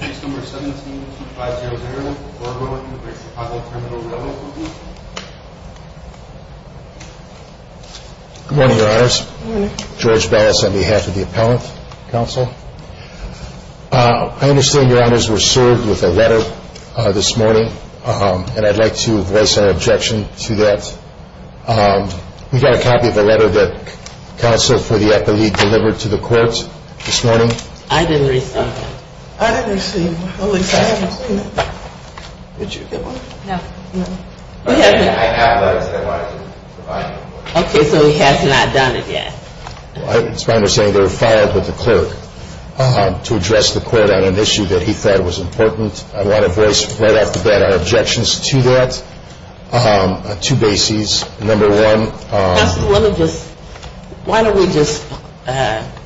Case No. 17-250, Oroville, New Brunswick, Chicago Terminal Railroad Company Good morning, Your Honors. Good morning. George Bass on behalf of the Appellant Counsel. I understand, Your Honors, we're served with a letter this morning, and I'd like to voice an objection to that. We've got a copy of the letter that counsel for the epileague delivered to the court this morning. I didn't receive it. I didn't receive it. At least I haven't seen it. Did you get one? No. No. I have letters that I wanted to provide you with. Okay, so he has not done it yet. It's my understanding they were filed with the clerk to address the court on an issue that he thought was important. I want to voice right off the bat our objections to that, two bases. Number one. Why don't we just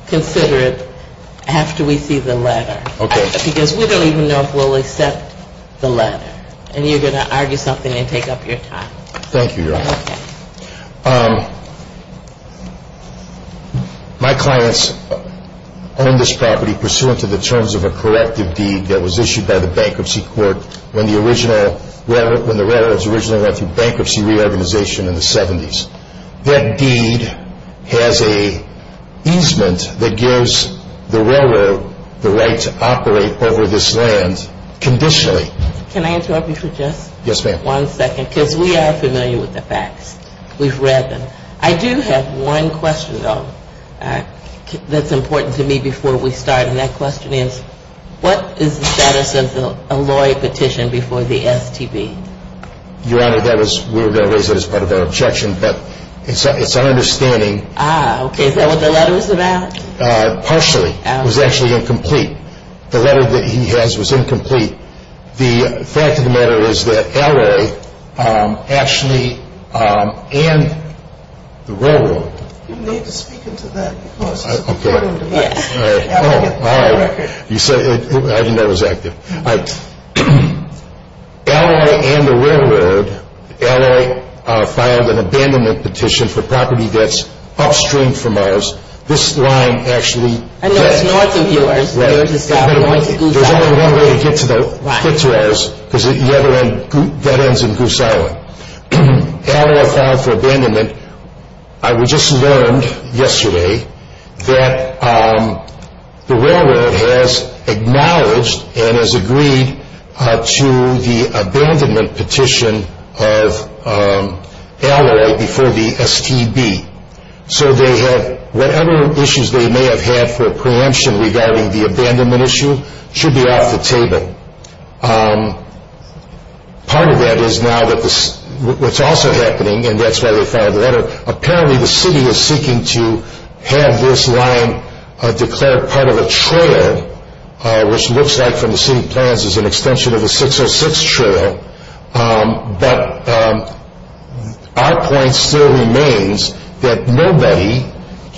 consider it after we see the letter? Okay. Because we don't even know if we'll accept the letter, and you're going to argue something and take up your time. Thank you, Your Honor. Okay. My clients own this property pursuant to the terms of a corrective deed that was issued by the bankruptcy court when the railroads originally went through bankruptcy reorganization in the 70s. That deed has an easement that gives the railroad the right to operate over this land conditionally. Can I interrupt you for just one second? Yes, ma'am. Because we are familiar with the facts. We've read them. I do have one question, though, that's important to me before we start, and that question is what is the status of the Alloy petition before the STB? Your Honor, we were going to raise that as part of our objection, but it's our understanding. Ah, okay. Is that what the letter was about? Partially. It was actually incomplete. The letter that he has was incomplete. The fact of the matter is that Alloy actually and the railroad. You need to speak into that because it's important. Yes. All right. I didn't know it was active. Alloy and the railroad, Alloy filed an abandonment petition for property debts upstream from ours. This line actually. I know it's north of yours. There's only one way to get to the Fitzroy's because the other end, that ends in Goose Island. Alloy filed for abandonment. I just learned yesterday that the railroad has acknowledged and has agreed to the abandonment petition of Alloy before the STB, so whatever issues they may have had for preemption regarding the abandonment issue should be off the table. Part of that is now that what's also happening, and that's why they filed a letter, apparently the city is seeking to have this line declared part of a trail, which looks like from the city plans is an extension of a 606 trail, but our point still remains that nobody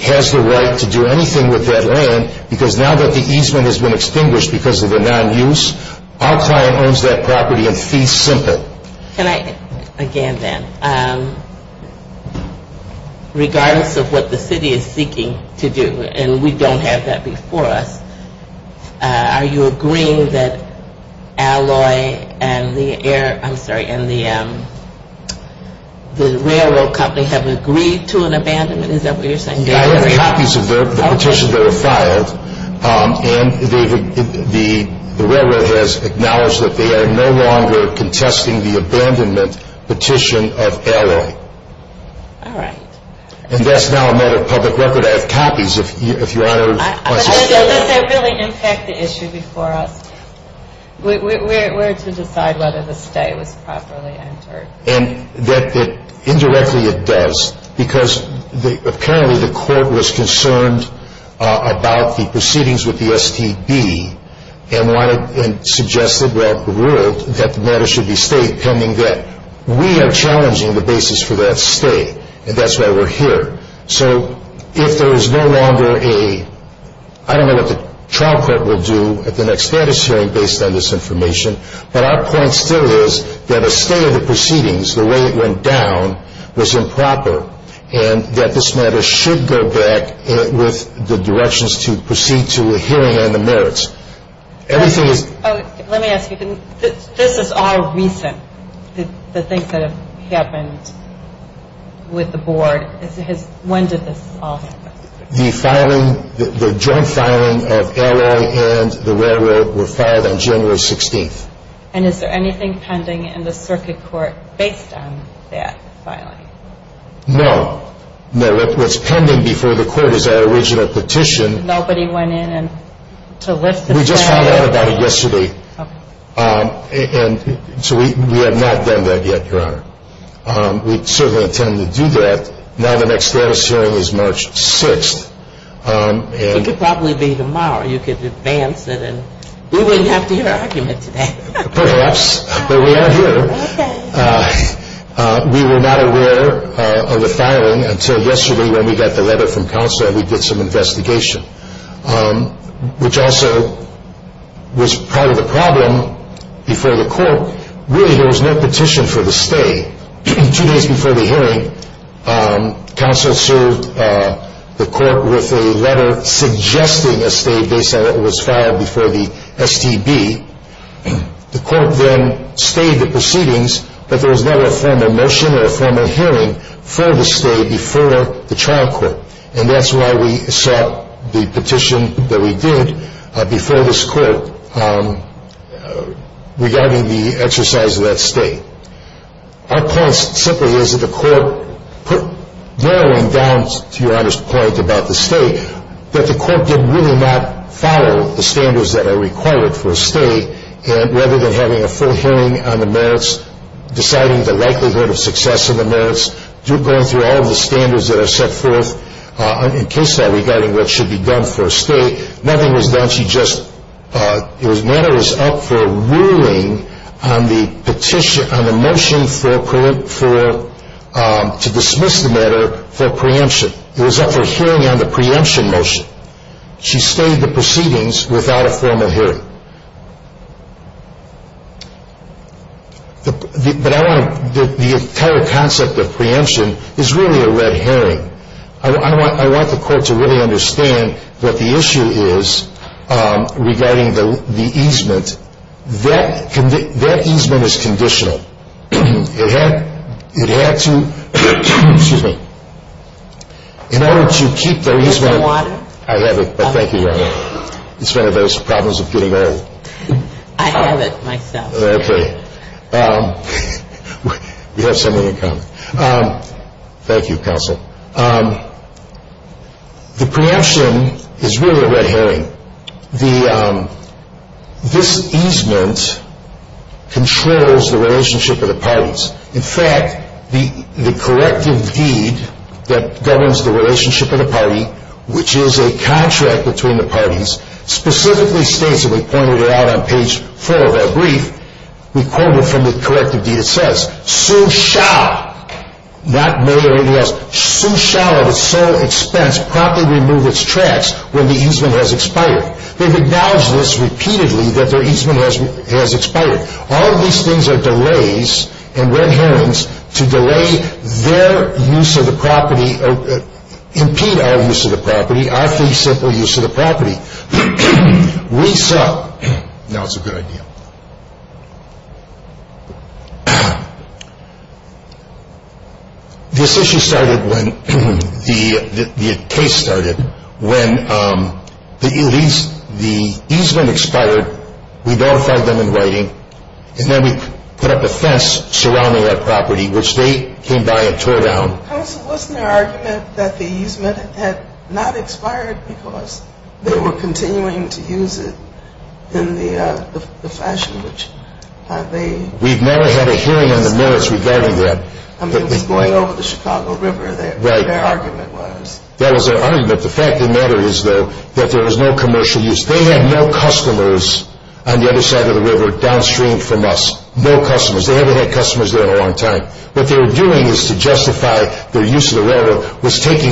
has the right to do anything with that land because now that the easement has been extinguished because of the non-use, our client owns that property in fee simple. Can I, again then, regardless of what the city is seeking to do, and we don't have that before us, are you agreeing that Alloy and the railroad company have agreed to an abandonment? Is that what you're saying? I have copies of the petitions that were filed, and the railroad has acknowledged that they are no longer contesting the abandonment petition of Alloy. All right. And that's now a matter of public record. I have copies, if Your Honor wants to see them. Does that really impact the issue before us? We're to decide whether the stay was properly entered. Indirectly it does, because apparently the court was concerned about the proceedings with the STB and suggested that the matter should be stayed pending that. We are challenging the basis for that stay, and that's why we're here. So if there is no longer a, I don't know what the trial court will do at the next status hearing based on this information, but our point still is that a stay of the proceedings, the way it went down, was improper, and that this matter should go back with the directions to proceed to a hearing on the merits. Let me ask you, this is all recent, the things that have happened with the board. When did this all happen? The filing, the joint filing of Alloy and the railroad were filed on January 16th. And is there anything pending in the circuit court based on that filing? No. What's pending before the court is our original petition. Nobody went in to lift the stand? We just filed that about yesterday. Okay. And so we have not done that yet, Your Honor. We certainly intend to do that. Now the next status hearing is March 6th. It could probably be tomorrow. You could advance it and we wouldn't have to hear an argument today. Perhaps, but we are here. Okay. We were not aware of the filing until yesterday when we got the letter from counsel and we did some investigation, which also was part of the problem before the court. Really, there was no petition for the stay. Two days before the hearing, counsel served the court with a letter suggesting a stay based on what was filed before the STB. The court then stayed the proceedings, but there was never a formal motion or a formal hearing for the stay before the trial court. And that's why we sought the petition that we did before this court regarding the exercise of that stay. Our point simply is that the court put narrowing down, to Your Honor's point about the stay, that the court did really not follow the standards that are required for a stay. And rather than having a full hearing on the merits, deciding the likelihood of success of the merits, going through all of the standards that are set forth in case law regarding what should be done for a stay, nothing was done. She just, the matter was up for ruling on the motion to dismiss the matter for preemption. It was up for hearing on the preemption motion. She stayed the proceedings without a formal hearing. But I want to, the entire concept of preemption is really a red herring. I want the court to really understand what the issue is regarding the easement. That easement is conditional. It had to, excuse me, in order to keep the easement. Is there water? I have it, but thank you, Your Honor. It's one of those problems of getting old. I have it myself. Okay. We have someone to come. Thank you, counsel. The preemption is really a red herring. This easement controls the relationship of the parties. which is a contract between the parties, specifically states, and we pointed it out on page four of our brief, we quote it from the corrective deed, it says, Sue shall, not may or anything else, Sue shall at its sole expense promptly remove its tracts when the easement has expired. They've acknowledged this repeatedly that their easement has expired. All of these things are delays and red herrings to delay their use of the property, or impede our use of the property, our free, simple use of the property. We saw, now it's a good idea. This issue started when the case started, when the easement expired, we notified them in writing, and then we put up a fence surrounding that property, which they came by and tore down. Counsel, wasn't there an argument that the easement had not expired because they were continuing to use it in the fashion which they... We've never had a hearing on the merits regarding that. I mean, it was going over the Chicago River there, their argument was. That was their argument. The fact of the matter is, though, that there was no commercial use. They had no customers on the other side of the river downstream from us. No customers. They haven't had customers there in a long time. What they were doing is to justify their use of the railroad was taking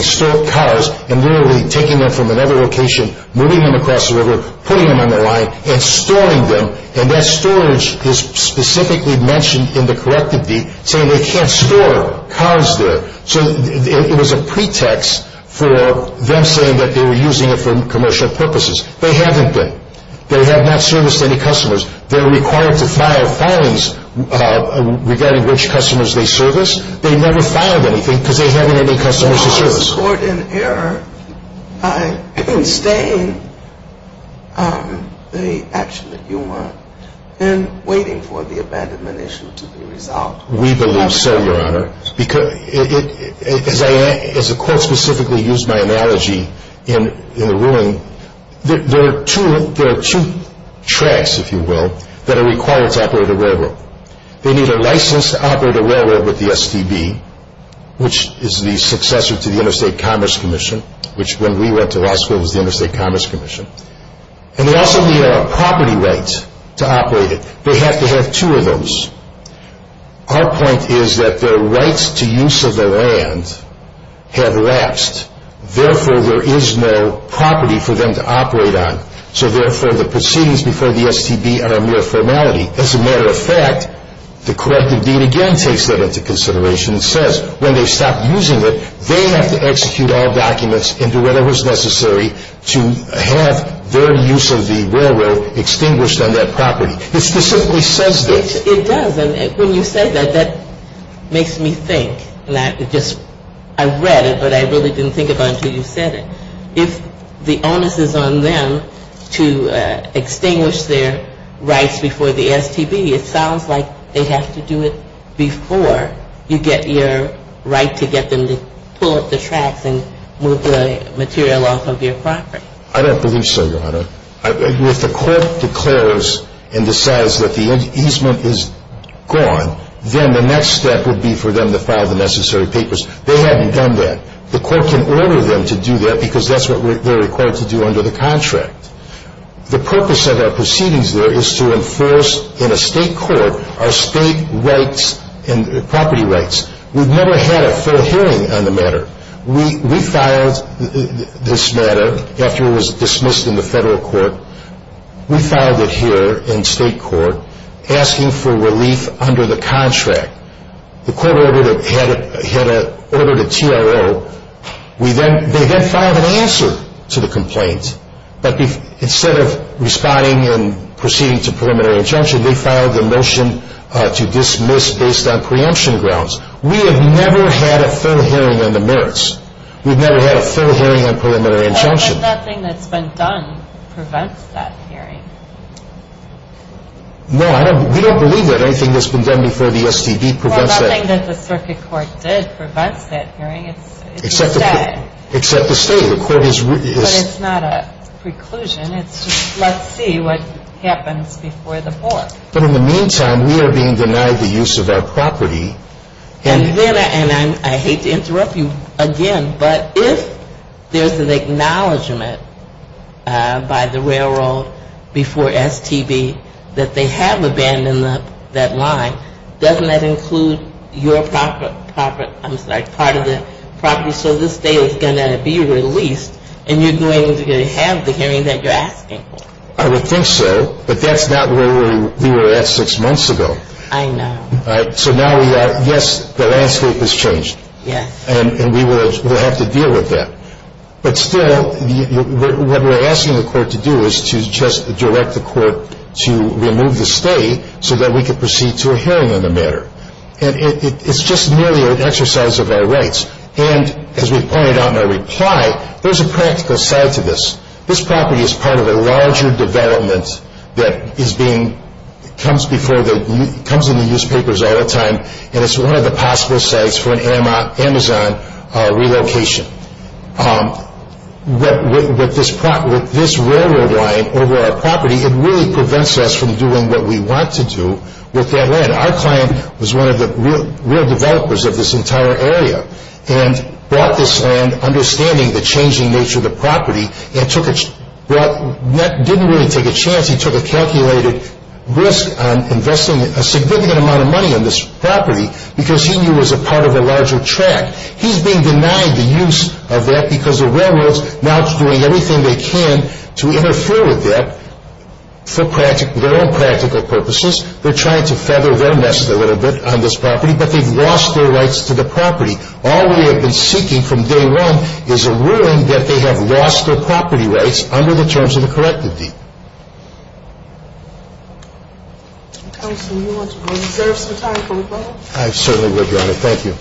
cars and literally taking them from another location, moving them across the river, putting them on the line, and storing them. And that storage is specifically mentioned in the corrective deed, saying they can't store cars there. So it was a pretext for them saying that they were using it for commercial purposes. They haven't been. They have not serviced any customers. They're required to file filings regarding which customers they service. They never filed anything because they haven't had any customers to service. Was the court in error in staying the action that you want and waiting for the abandonment issue to be resolved? We believe so, Your Honor. As the court specifically used my analogy in the ruling, there are two tracks, if you will, that are required to operate a railroad. They need a licensed operator railroad with the STB, which is the successor to the Interstate Commerce Commission, which when we went to law school was the Interstate Commerce Commission. And they also need a property right to operate it. They have to have two of those. Our point is that their rights to use of the land have lapsed. Therefore, there is no property for them to operate on. So therefore, the proceedings before the STB are a mere formality. As a matter of fact, the corrective deed again takes that into consideration and says when they stop using it, they have to execute all documents and do whatever is necessary to have their use of the railroad extinguished on that property. It specifically says this. It does. When you say that, that makes me think. I read it, but I really didn't think about it until you said it. If the onus is on them to extinguish their rights before the STB, it sounds like they have to do it before you get your right to get them to pull up the tracks and move the material off of your property. I don't believe so, Your Honor. If the court declares and decides that the easement is gone, then the next step would be for them to file the necessary papers. They haven't done that. The court can order them to do that because that's what they're required to do under the contract. The purpose of our proceedings there is to enforce in a state court our state rights and property rights. We've never had a full hearing on the matter. We filed this matter after it was dismissed in the federal court. We filed it here in state court asking for relief under the contract. The court ordered a TRO. They then filed an answer to the complaint, but instead of responding and proceeding to preliminary injunction, they filed a motion to dismiss based on preemption grounds. We have never had a full hearing on the merits. We've never had a full hearing on preliminary injunction. But nothing that's been done prevents that hearing. No, we don't believe that anything that's been done before the STD prevents that. Well, nothing that the circuit court did prevents that hearing. Except the state. Except the state. But it's not a preclusion. It's just, let's see what happens before the board. But in the meantime, we are being denied the use of our property. And then, and I hate to interrupt you again, but if there's an acknowledgment by the railroad before STD that they have abandoned that line, doesn't that include your property, I'm sorry, part of the property? So this state is going to be released and you're going to have the hearing that you're asking for. I would think so, but that's not where we were at six months ago. I know. So now we are, yes, the landscape has changed. Yes. And we will have to deal with that. But still, what we're asking the court to do is to just direct the court to remove the state so that we can proceed to a hearing on the matter. And it's just merely an exercise of our rights. And as we pointed out in our reply, there's a practical side to this. This property is part of a larger development that comes in the newspapers all the time, and it's one of the possible sites for an Amazon relocation. With this railroad line over our property, it really prevents us from doing what we want to do with that land. Our client was one of the real developers of this entire area and brought this land, understanding the changing nature of the property, and didn't really take a chance. He took a calculated risk on investing a significant amount of money on this property because he knew it was a part of a larger track. He's being denied the use of that because the railroad's now doing everything they can to interfere with that for their own practical purposes. They're trying to feather their nest a little bit on this property, but they've lost their rights to the property. All we have been seeking from day one is a ruling that they have lost their property rights under the terms of the corrective deed. Counsel, do you want to reserve some time for rebuttal? I certainly would, Your Honor. Thank you.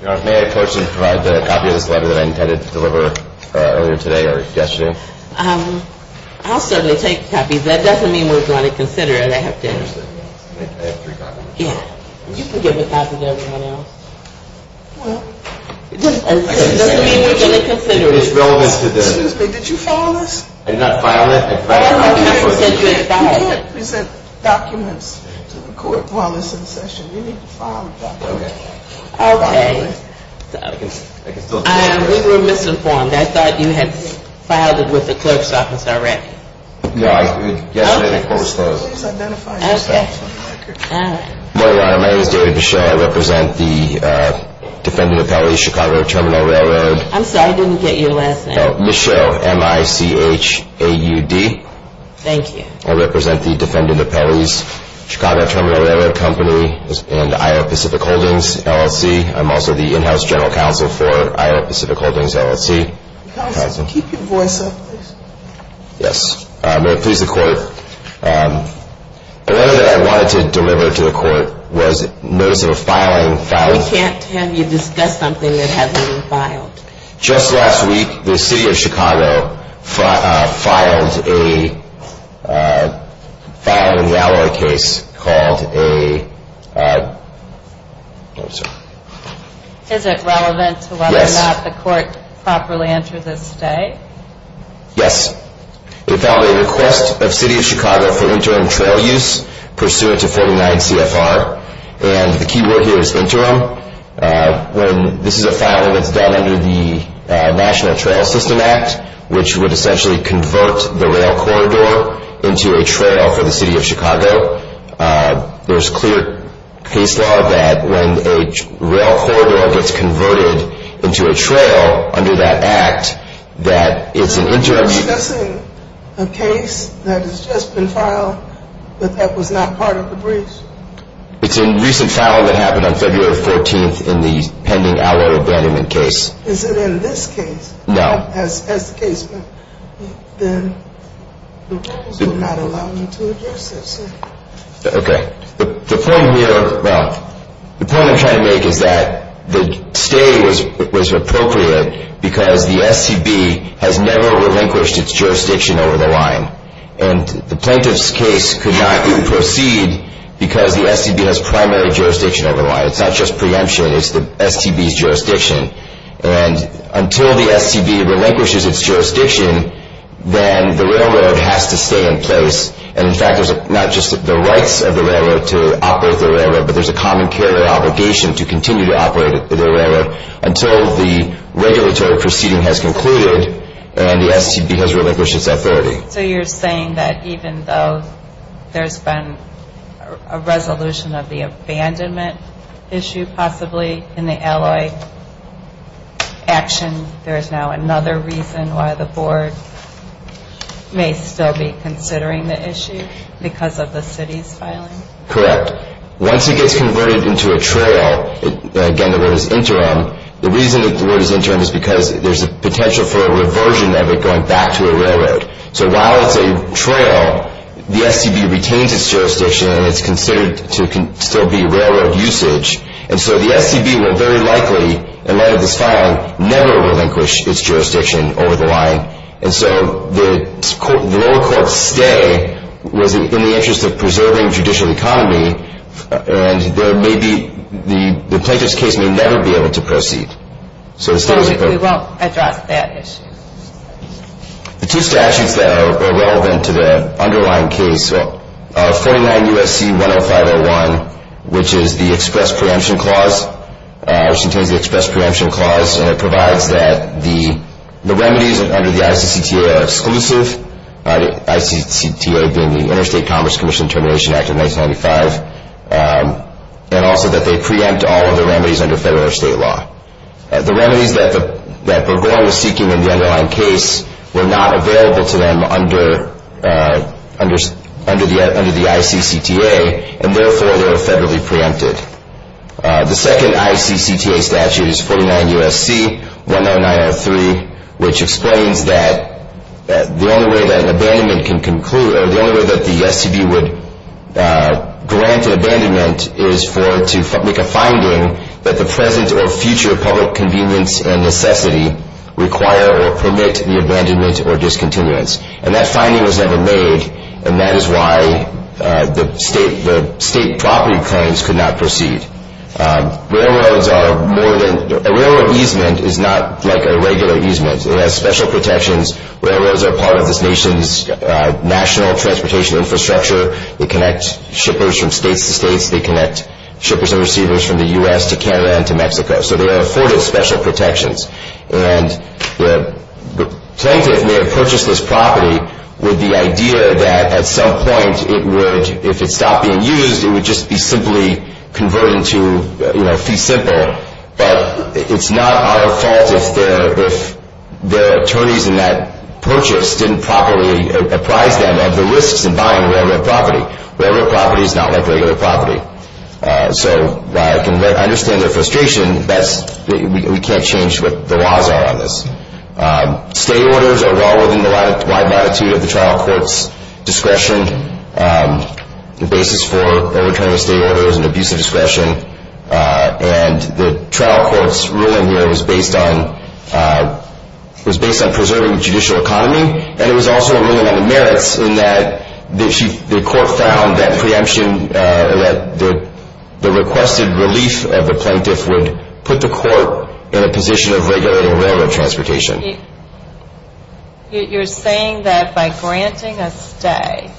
Your Honor, may I personally provide the copy of this letter that I intended to deliver earlier today or yesterday? I'll certainly take copies. That doesn't mean we're going to consider it after. I have three copies. Yeah, you can give a copy to everyone else. Well, it doesn't mean we're going to consider it. It's relevant to this. Excuse me, did you file this? I did not file it. You can't present documents to the court while this is in session. You need to file a document. Okay. We were misinformed. I thought you had filed it with the clerk's office already. No, yesterday the court was closed. Please identify yourself. All right. Good morning, Your Honor. My name is David Bichot. I represent the Defendant Appellate Chicago Terminal Railroad. I'm sorry, I didn't get your last name. Michelle, M-I-C-H-A-U-D. Thank you. I represent the Defendant Appellate Chicago Terminal Railroad Company and Iowa Pacific Holdings LLC. I'm also the in-house general counsel for Iowa Pacific Holdings LLC. Counsel, keep your voice up, please. Yes. May it please the court, the letter that I wanted to deliver to the court was notice of a filing. We can't have you discuss something that hasn't been filed. Just last week the city of Chicago filed a railroad case called a- Is it relevant to whether or not the court properly entered this state? Yes. It filed a request of the city of Chicago for interim trail use pursuant to 49 CFR. And the key word here is interim. This is a filing that's done under the National Trail System Act, which would essentially convert the rail corridor into a trail for the city of Chicago. There's clear case law that when a rail corridor gets converted into a trail under that act, that it's an interim- Are you discussing a case that has just been filed, but that was not part of the breach? It's a recent file that happened on February 14th in the pending outlawed abandonment case. Is it in this case? No. As the case, but then the rules would not allow me to address this. Okay. The point here, well, the point I'm trying to make is that the stay was appropriate because the SCB has never relinquished its jurisdiction over the line. And the plaintiff's case could not even proceed because the SCB has primary jurisdiction over the line. It's not just preemption. It's the SCB's jurisdiction. And until the SCB relinquishes its jurisdiction, then the railroad has to stay in place. And, in fact, there's not just the rights of the railroad to operate the railroad, but there's a common carrier obligation to continue to operate the railroad until the regulatory proceeding has concluded and the SCB has relinquished its authority. So you're saying that even though there's been a resolution of the abandonment issue possibly in the alloy action, there is now another reason why the board may still be considering the issue because of the city's filing? Correct. Once it gets converted into a trail, again, the word is interim, the reason the word is interim is because there's a potential for a reversion of it going back to a railroad. So while it's a trail, the SCB retains its jurisdiction, and it's considered to still be railroad usage. And so the SCB will very likely, in light of this filing, never relinquish its jurisdiction over the line. And so the lower court's stay was in the interest of preserving judicial economy, and the plaintiff's case may never be able to proceed. So we won't address that issue. The two statutes that are relevant to the underlying case, 49 U.S.C. 10501, which is the express preemption clause, which contains the express preemption clause, and it provides that the remedies under the ICCTA are exclusive, the ICCTA being the Interstate Commerce Commission Termination Act of 1995, and also that they preempt all of the remedies under federal or state law. The remedies that Burgoyne was seeking in the underlying case were not available to them under the ICCTA, and therefore they were federally preempted. The second ICCTA statute is 49 U.S.C. 10903, which explains that the only way that an abandonment can conclude, or the only way that the SCB would grant an abandonment, is to make a finding that the present or future public convenience and necessity require or permit the abandonment or discontinuance. And that finding was never made, and that is why the state property claims could not proceed. Railroad easement is not like a regular easement. It has special protections. Railroads are part of this nation's national transportation infrastructure. They connect shippers from states to states. They connect shippers and receivers from the U.S. to Canada and to Mexico, so they are afforded special protections. And the plaintiff may have purchased this property with the idea that at some point it would, if it stopped being used, it would just be simply converted into, you know, fee simple, but it's not our fault if the attorneys in that purchase didn't properly apprise them of the risks in buying railroad property. Railroad property is not like regular property. So while I can understand their frustration, we can't change what the laws are on this. State orders are law within the wide latitude of the trial court's discretion. The basis for overturning state order is an abuse of discretion, and the trial court's ruling here was based on preserving the judicial economy, and it was also a ruling on the merits in that the court found that preemption, that the requested relief of the plaintiff would put the court in a position of regulating railroad transportation. You're saying that by granting a stay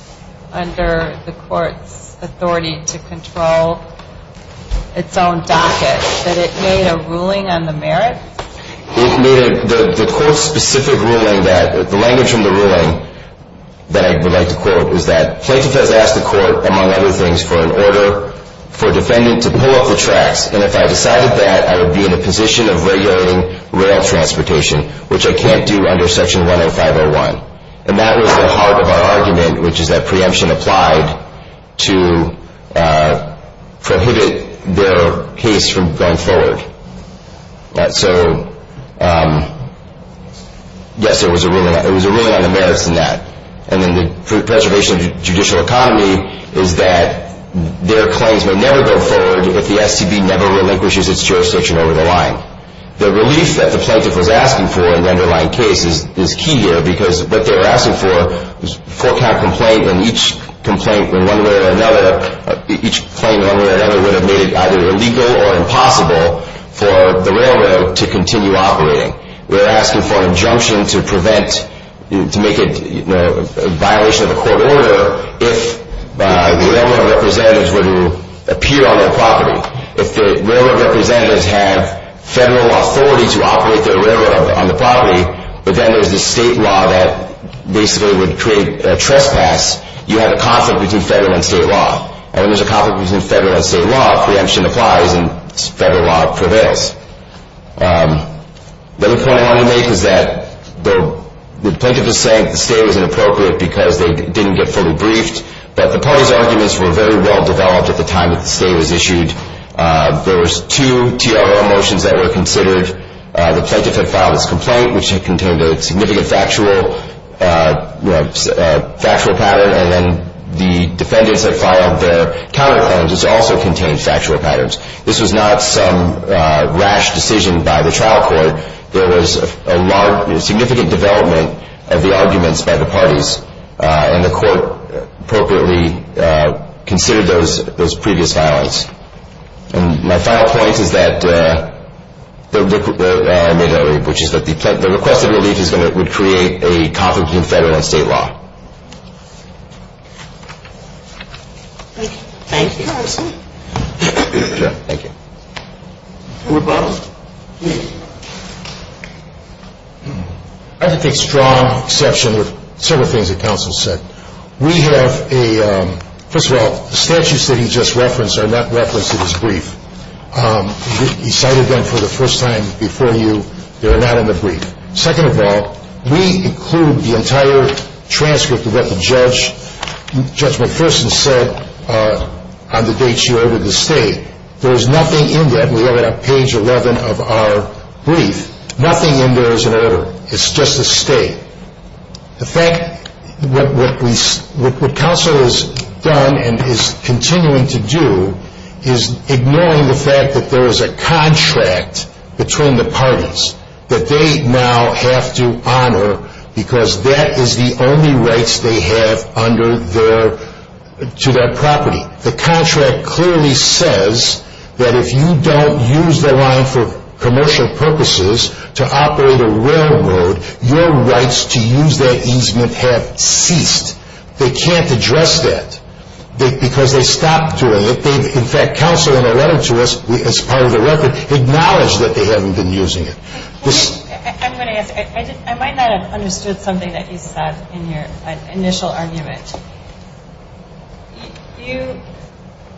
under the court's authority to control its own docket, that it made a ruling on the merits? It made a, the court's specific ruling that, the language from the ruling that I would like to quote, is that plaintiff has asked the court, among other things, for an order for defendant to pull off the tracks, and if I decided that, I would be in a position of regulating rail transportation, which I can't do under section 105.01. And that was the heart of our argument, which is that preemption applied to prohibit their case from going forward. So, yes, there was a ruling on the merits in that. And then the preservation of judicial economy is that their claims may never go forward if the STB never relinquishes its jurisdiction over the line. The relief that the plaintiff was asking for in the underlying case is key here, because what they were asking for was a four-count complaint, and each complaint in one way or another, each claim in one way or another, would have made it either illegal or impossible for the railroad to continue operating. They were asking for an injunction to prevent, to make it a violation of a court order, if the railroad representatives were to appear on their property. If the railroad representatives had federal authority to operate their railroad on the property, but then there's this state law that basically would create a trespass, you have a conflict between federal and state law. And when there's a conflict between federal and state law, preemption applies and federal law prevails. The other point I want to make is that the plaintiff is saying that the stay was inappropriate because they didn't get fully briefed, but the party's arguments were very well-developed at the time that the stay was issued. There was two TRO motions that were considered. The plaintiff had filed his complaint, which contained a significant factual pattern, and then the defendants had filed their counterclaims, which also contained factual patterns. This was not some rash decision by the trial court. There was a significant development of the arguments by the parties, and the court appropriately considered those previous filings. My final point is that the requested relief would create a conflict between federal and state law. Thank you. Thank you, counsel. Thank you. Rebuttal, please. I think there's a strong exception to certain things that counsel said. First of all, the statutes that he just referenced are not referenced in his brief. He cited them for the first time before you. They are not in the brief. Second of all, we include the entire transcript of what Judge McPherson said on the date she ordered the stay. There is nothing in that. We have it on page 11 of our brief. Nothing in there is an order. It's just a stay. In fact, what counsel has done and is continuing to do is ignoring the fact that there is a contract between the parties that they now have to honor because that is the only rights they have to their property. The contract clearly says that if you don't use the line for commercial purposes to operate a railroad, your rights to use that easement have ceased. They can't address that because they stopped doing it. In fact, counsel in a letter to us as part of the record acknowledged that they haven't been using it. I'm going to ask. I might not have understood something that you said in your initial argument. You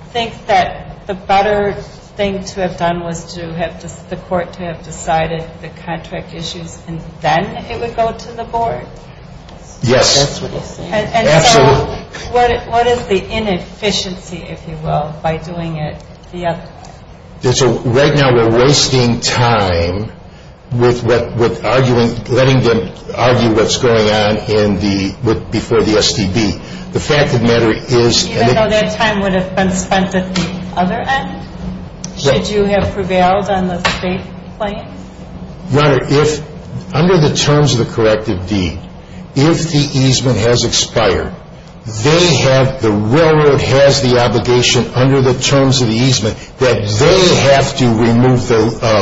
think that the better thing to have done was to have the court to have decided the contract issues and then it would go to the board? Yes. And so what is the inefficiency, if you will, by doing it the other way? Right now we're wasting time with letting them argue what's going on before the STB. Even though that time would have been spent at the other end? Should you have prevailed on the state plan? Your Honor, under the terms of the corrective deed, if the easement has expired, the railroad has the obligation under the terms of the easement that they have to remove the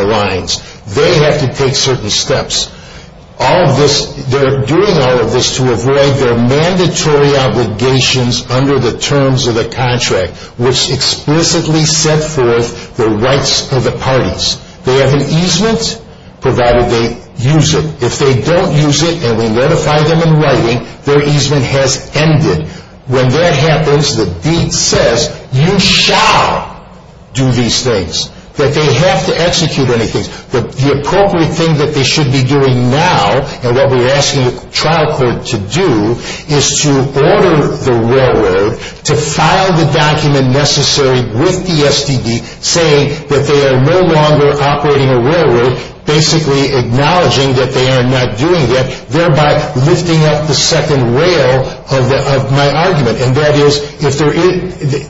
lines. They have to take certain steps. They're doing all of this to avoid their mandatory obligations under the terms of the contract, which explicitly set forth the rights of the parties. They have an easement, provided they use it. If they don't use it and we notify them in writing, their easement has ended. When that happens, the deed says, you shall do these things. That they have to execute anything. The appropriate thing that they should be doing now, and what we're asking the trial court to do, is to order the railroad to file the document necessary with the STB, saying that they are no longer operating a railroad, basically acknowledging that they are not doing it, thereby lifting up the second rail of my argument. And that is, if there is,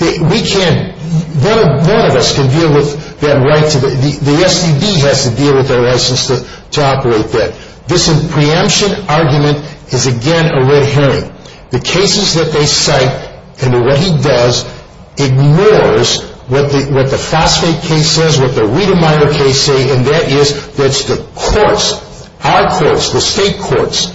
we can't, none of us can deal with that right. The STB has to deal with their license to operate that. This preemption argument is again a red herring. The cases that they cite, and what he does, ignores what the Fosfate case says, what the Riedemeyer case says, and that is that it's the courts, our courts, the state courts,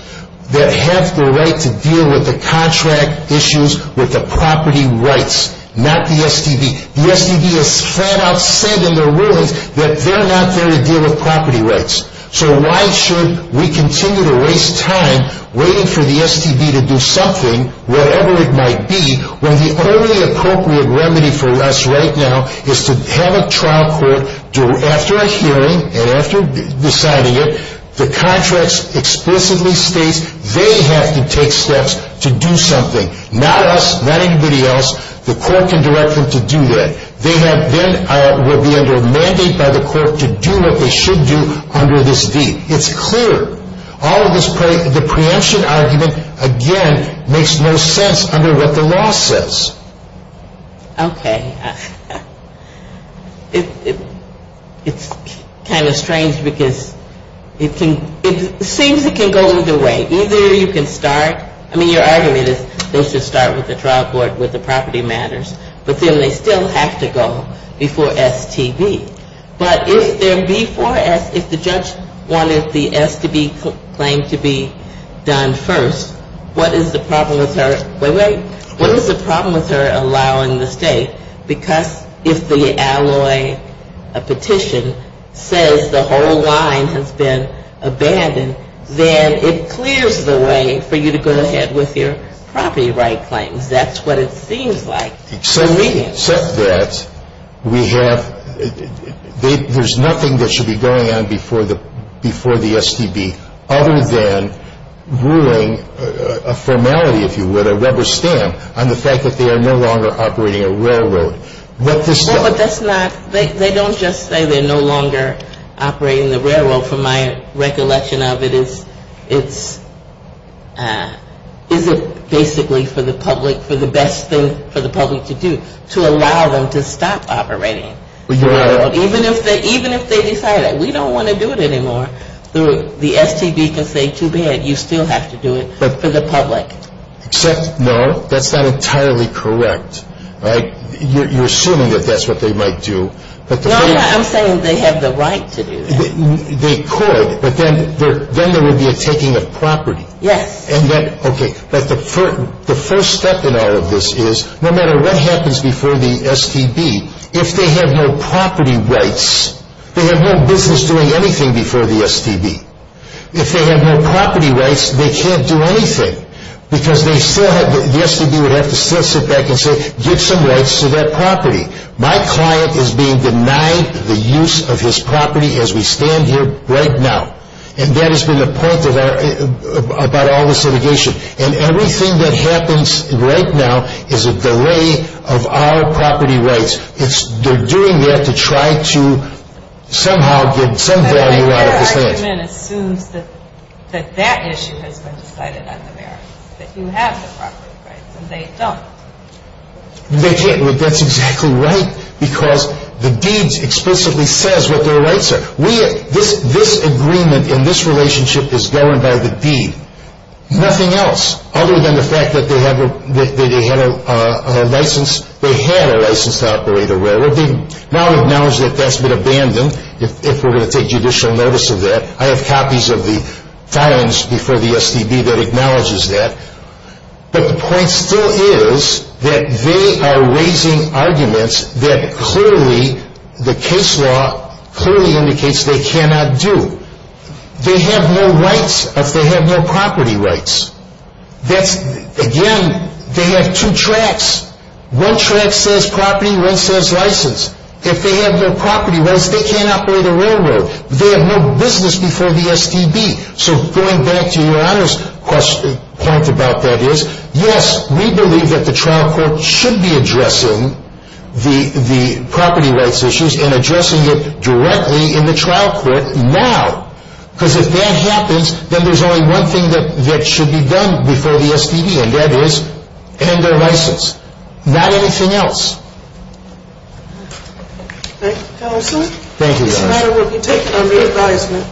that have the right to deal with the contract issues with the property rights, not the STB. The STB has flat out said in their rulings that they're not there to deal with property rights. So why should we continue to waste time waiting for the STB to do something, whatever it might be, when the only appropriate remedy for us right now is to have a trial court, after a hearing, and after deciding it, the contracts explicitly states they have to take steps to do something. Not us, not anybody else. The court can direct them to do that. They have been, will be under a mandate by the court to do what they should do under this V. It's clear. All of this, the preemption argument, again, makes no sense under what the law says. Okay. It's kind of strange because it can, it seems it can go either way. Either you can start, I mean your argument is they should start with the trial court with the property matters, but then they still have to go before STB. But if there before, if the judge wanted the STB claim to be done first, what is the problem with her, wait, wait, what is the problem with her allowing the state? Because if the alloy, a petition, says the whole line has been abandoned, then it clears the way for you to go ahead with your property right claims. That's what it seems like. So we accept that we have, there's nothing that should be going on before the STB, other than ruling a formality, if you would, a rubber stamp, on the fact that they are no longer operating a railroad. But that's not, they don't just say they're no longer operating the railroad from my recollection of it. It's, is it basically for the public, for the best thing for the public to do, to allow them to stop operating. Even if they decide that we don't want to do it anymore, the STB can say too bad, you still have to do it for the public. Except, no, that's not entirely correct. You're assuming that that's what they might do. No, I'm saying they have the right to do that. They could, but then there would be a taking of property. Yes. And that, okay, but the first step in all of this is, no matter what happens before the STB, if they have no property rights, they have no business doing anything before the STB. If they have no property rights, they can't do anything, because they still have, the STB would have to still sit back and say, give some rights to that property. My client is being denied the use of his property as we stand here right now. And that has been the point of our, about all this litigation. And everything that happens right now is a delay of our property rights. It's, they're doing that to try to somehow get some value out of this thing. But their argument assumes that, that that issue has been decided on the merits. That you have the property rights, and they don't. They can't, that's exactly right, because the deed explicitly says what their rights are. We, this agreement in this relationship is governed by the deed. Nothing else, other than the fact that they have a, that they had a license, they had a license to operate a railroad. They now acknowledge that that's been abandoned, if we're going to take judicial notice of that. I have copies of the filings before the STB that acknowledges that. But the point still is that they are raising arguments that clearly, the case law clearly indicates they cannot do. They have no rights if they have no property rights. That's, again, they have two tracks. One track says property, one says license. If they have no property rights, they can't operate a railroad. They have no business before the STB. So going back to Your Honor's point about that is, yes, we believe that the trial court should be addressing the property rights issues and addressing it directly in the trial court now. Because if that happens, then there's only one thing that should be done before the STB, and that is end their license. Not anything else. Thank you, counsel. Thank you, Your Honor. This matter will be taken under advisement.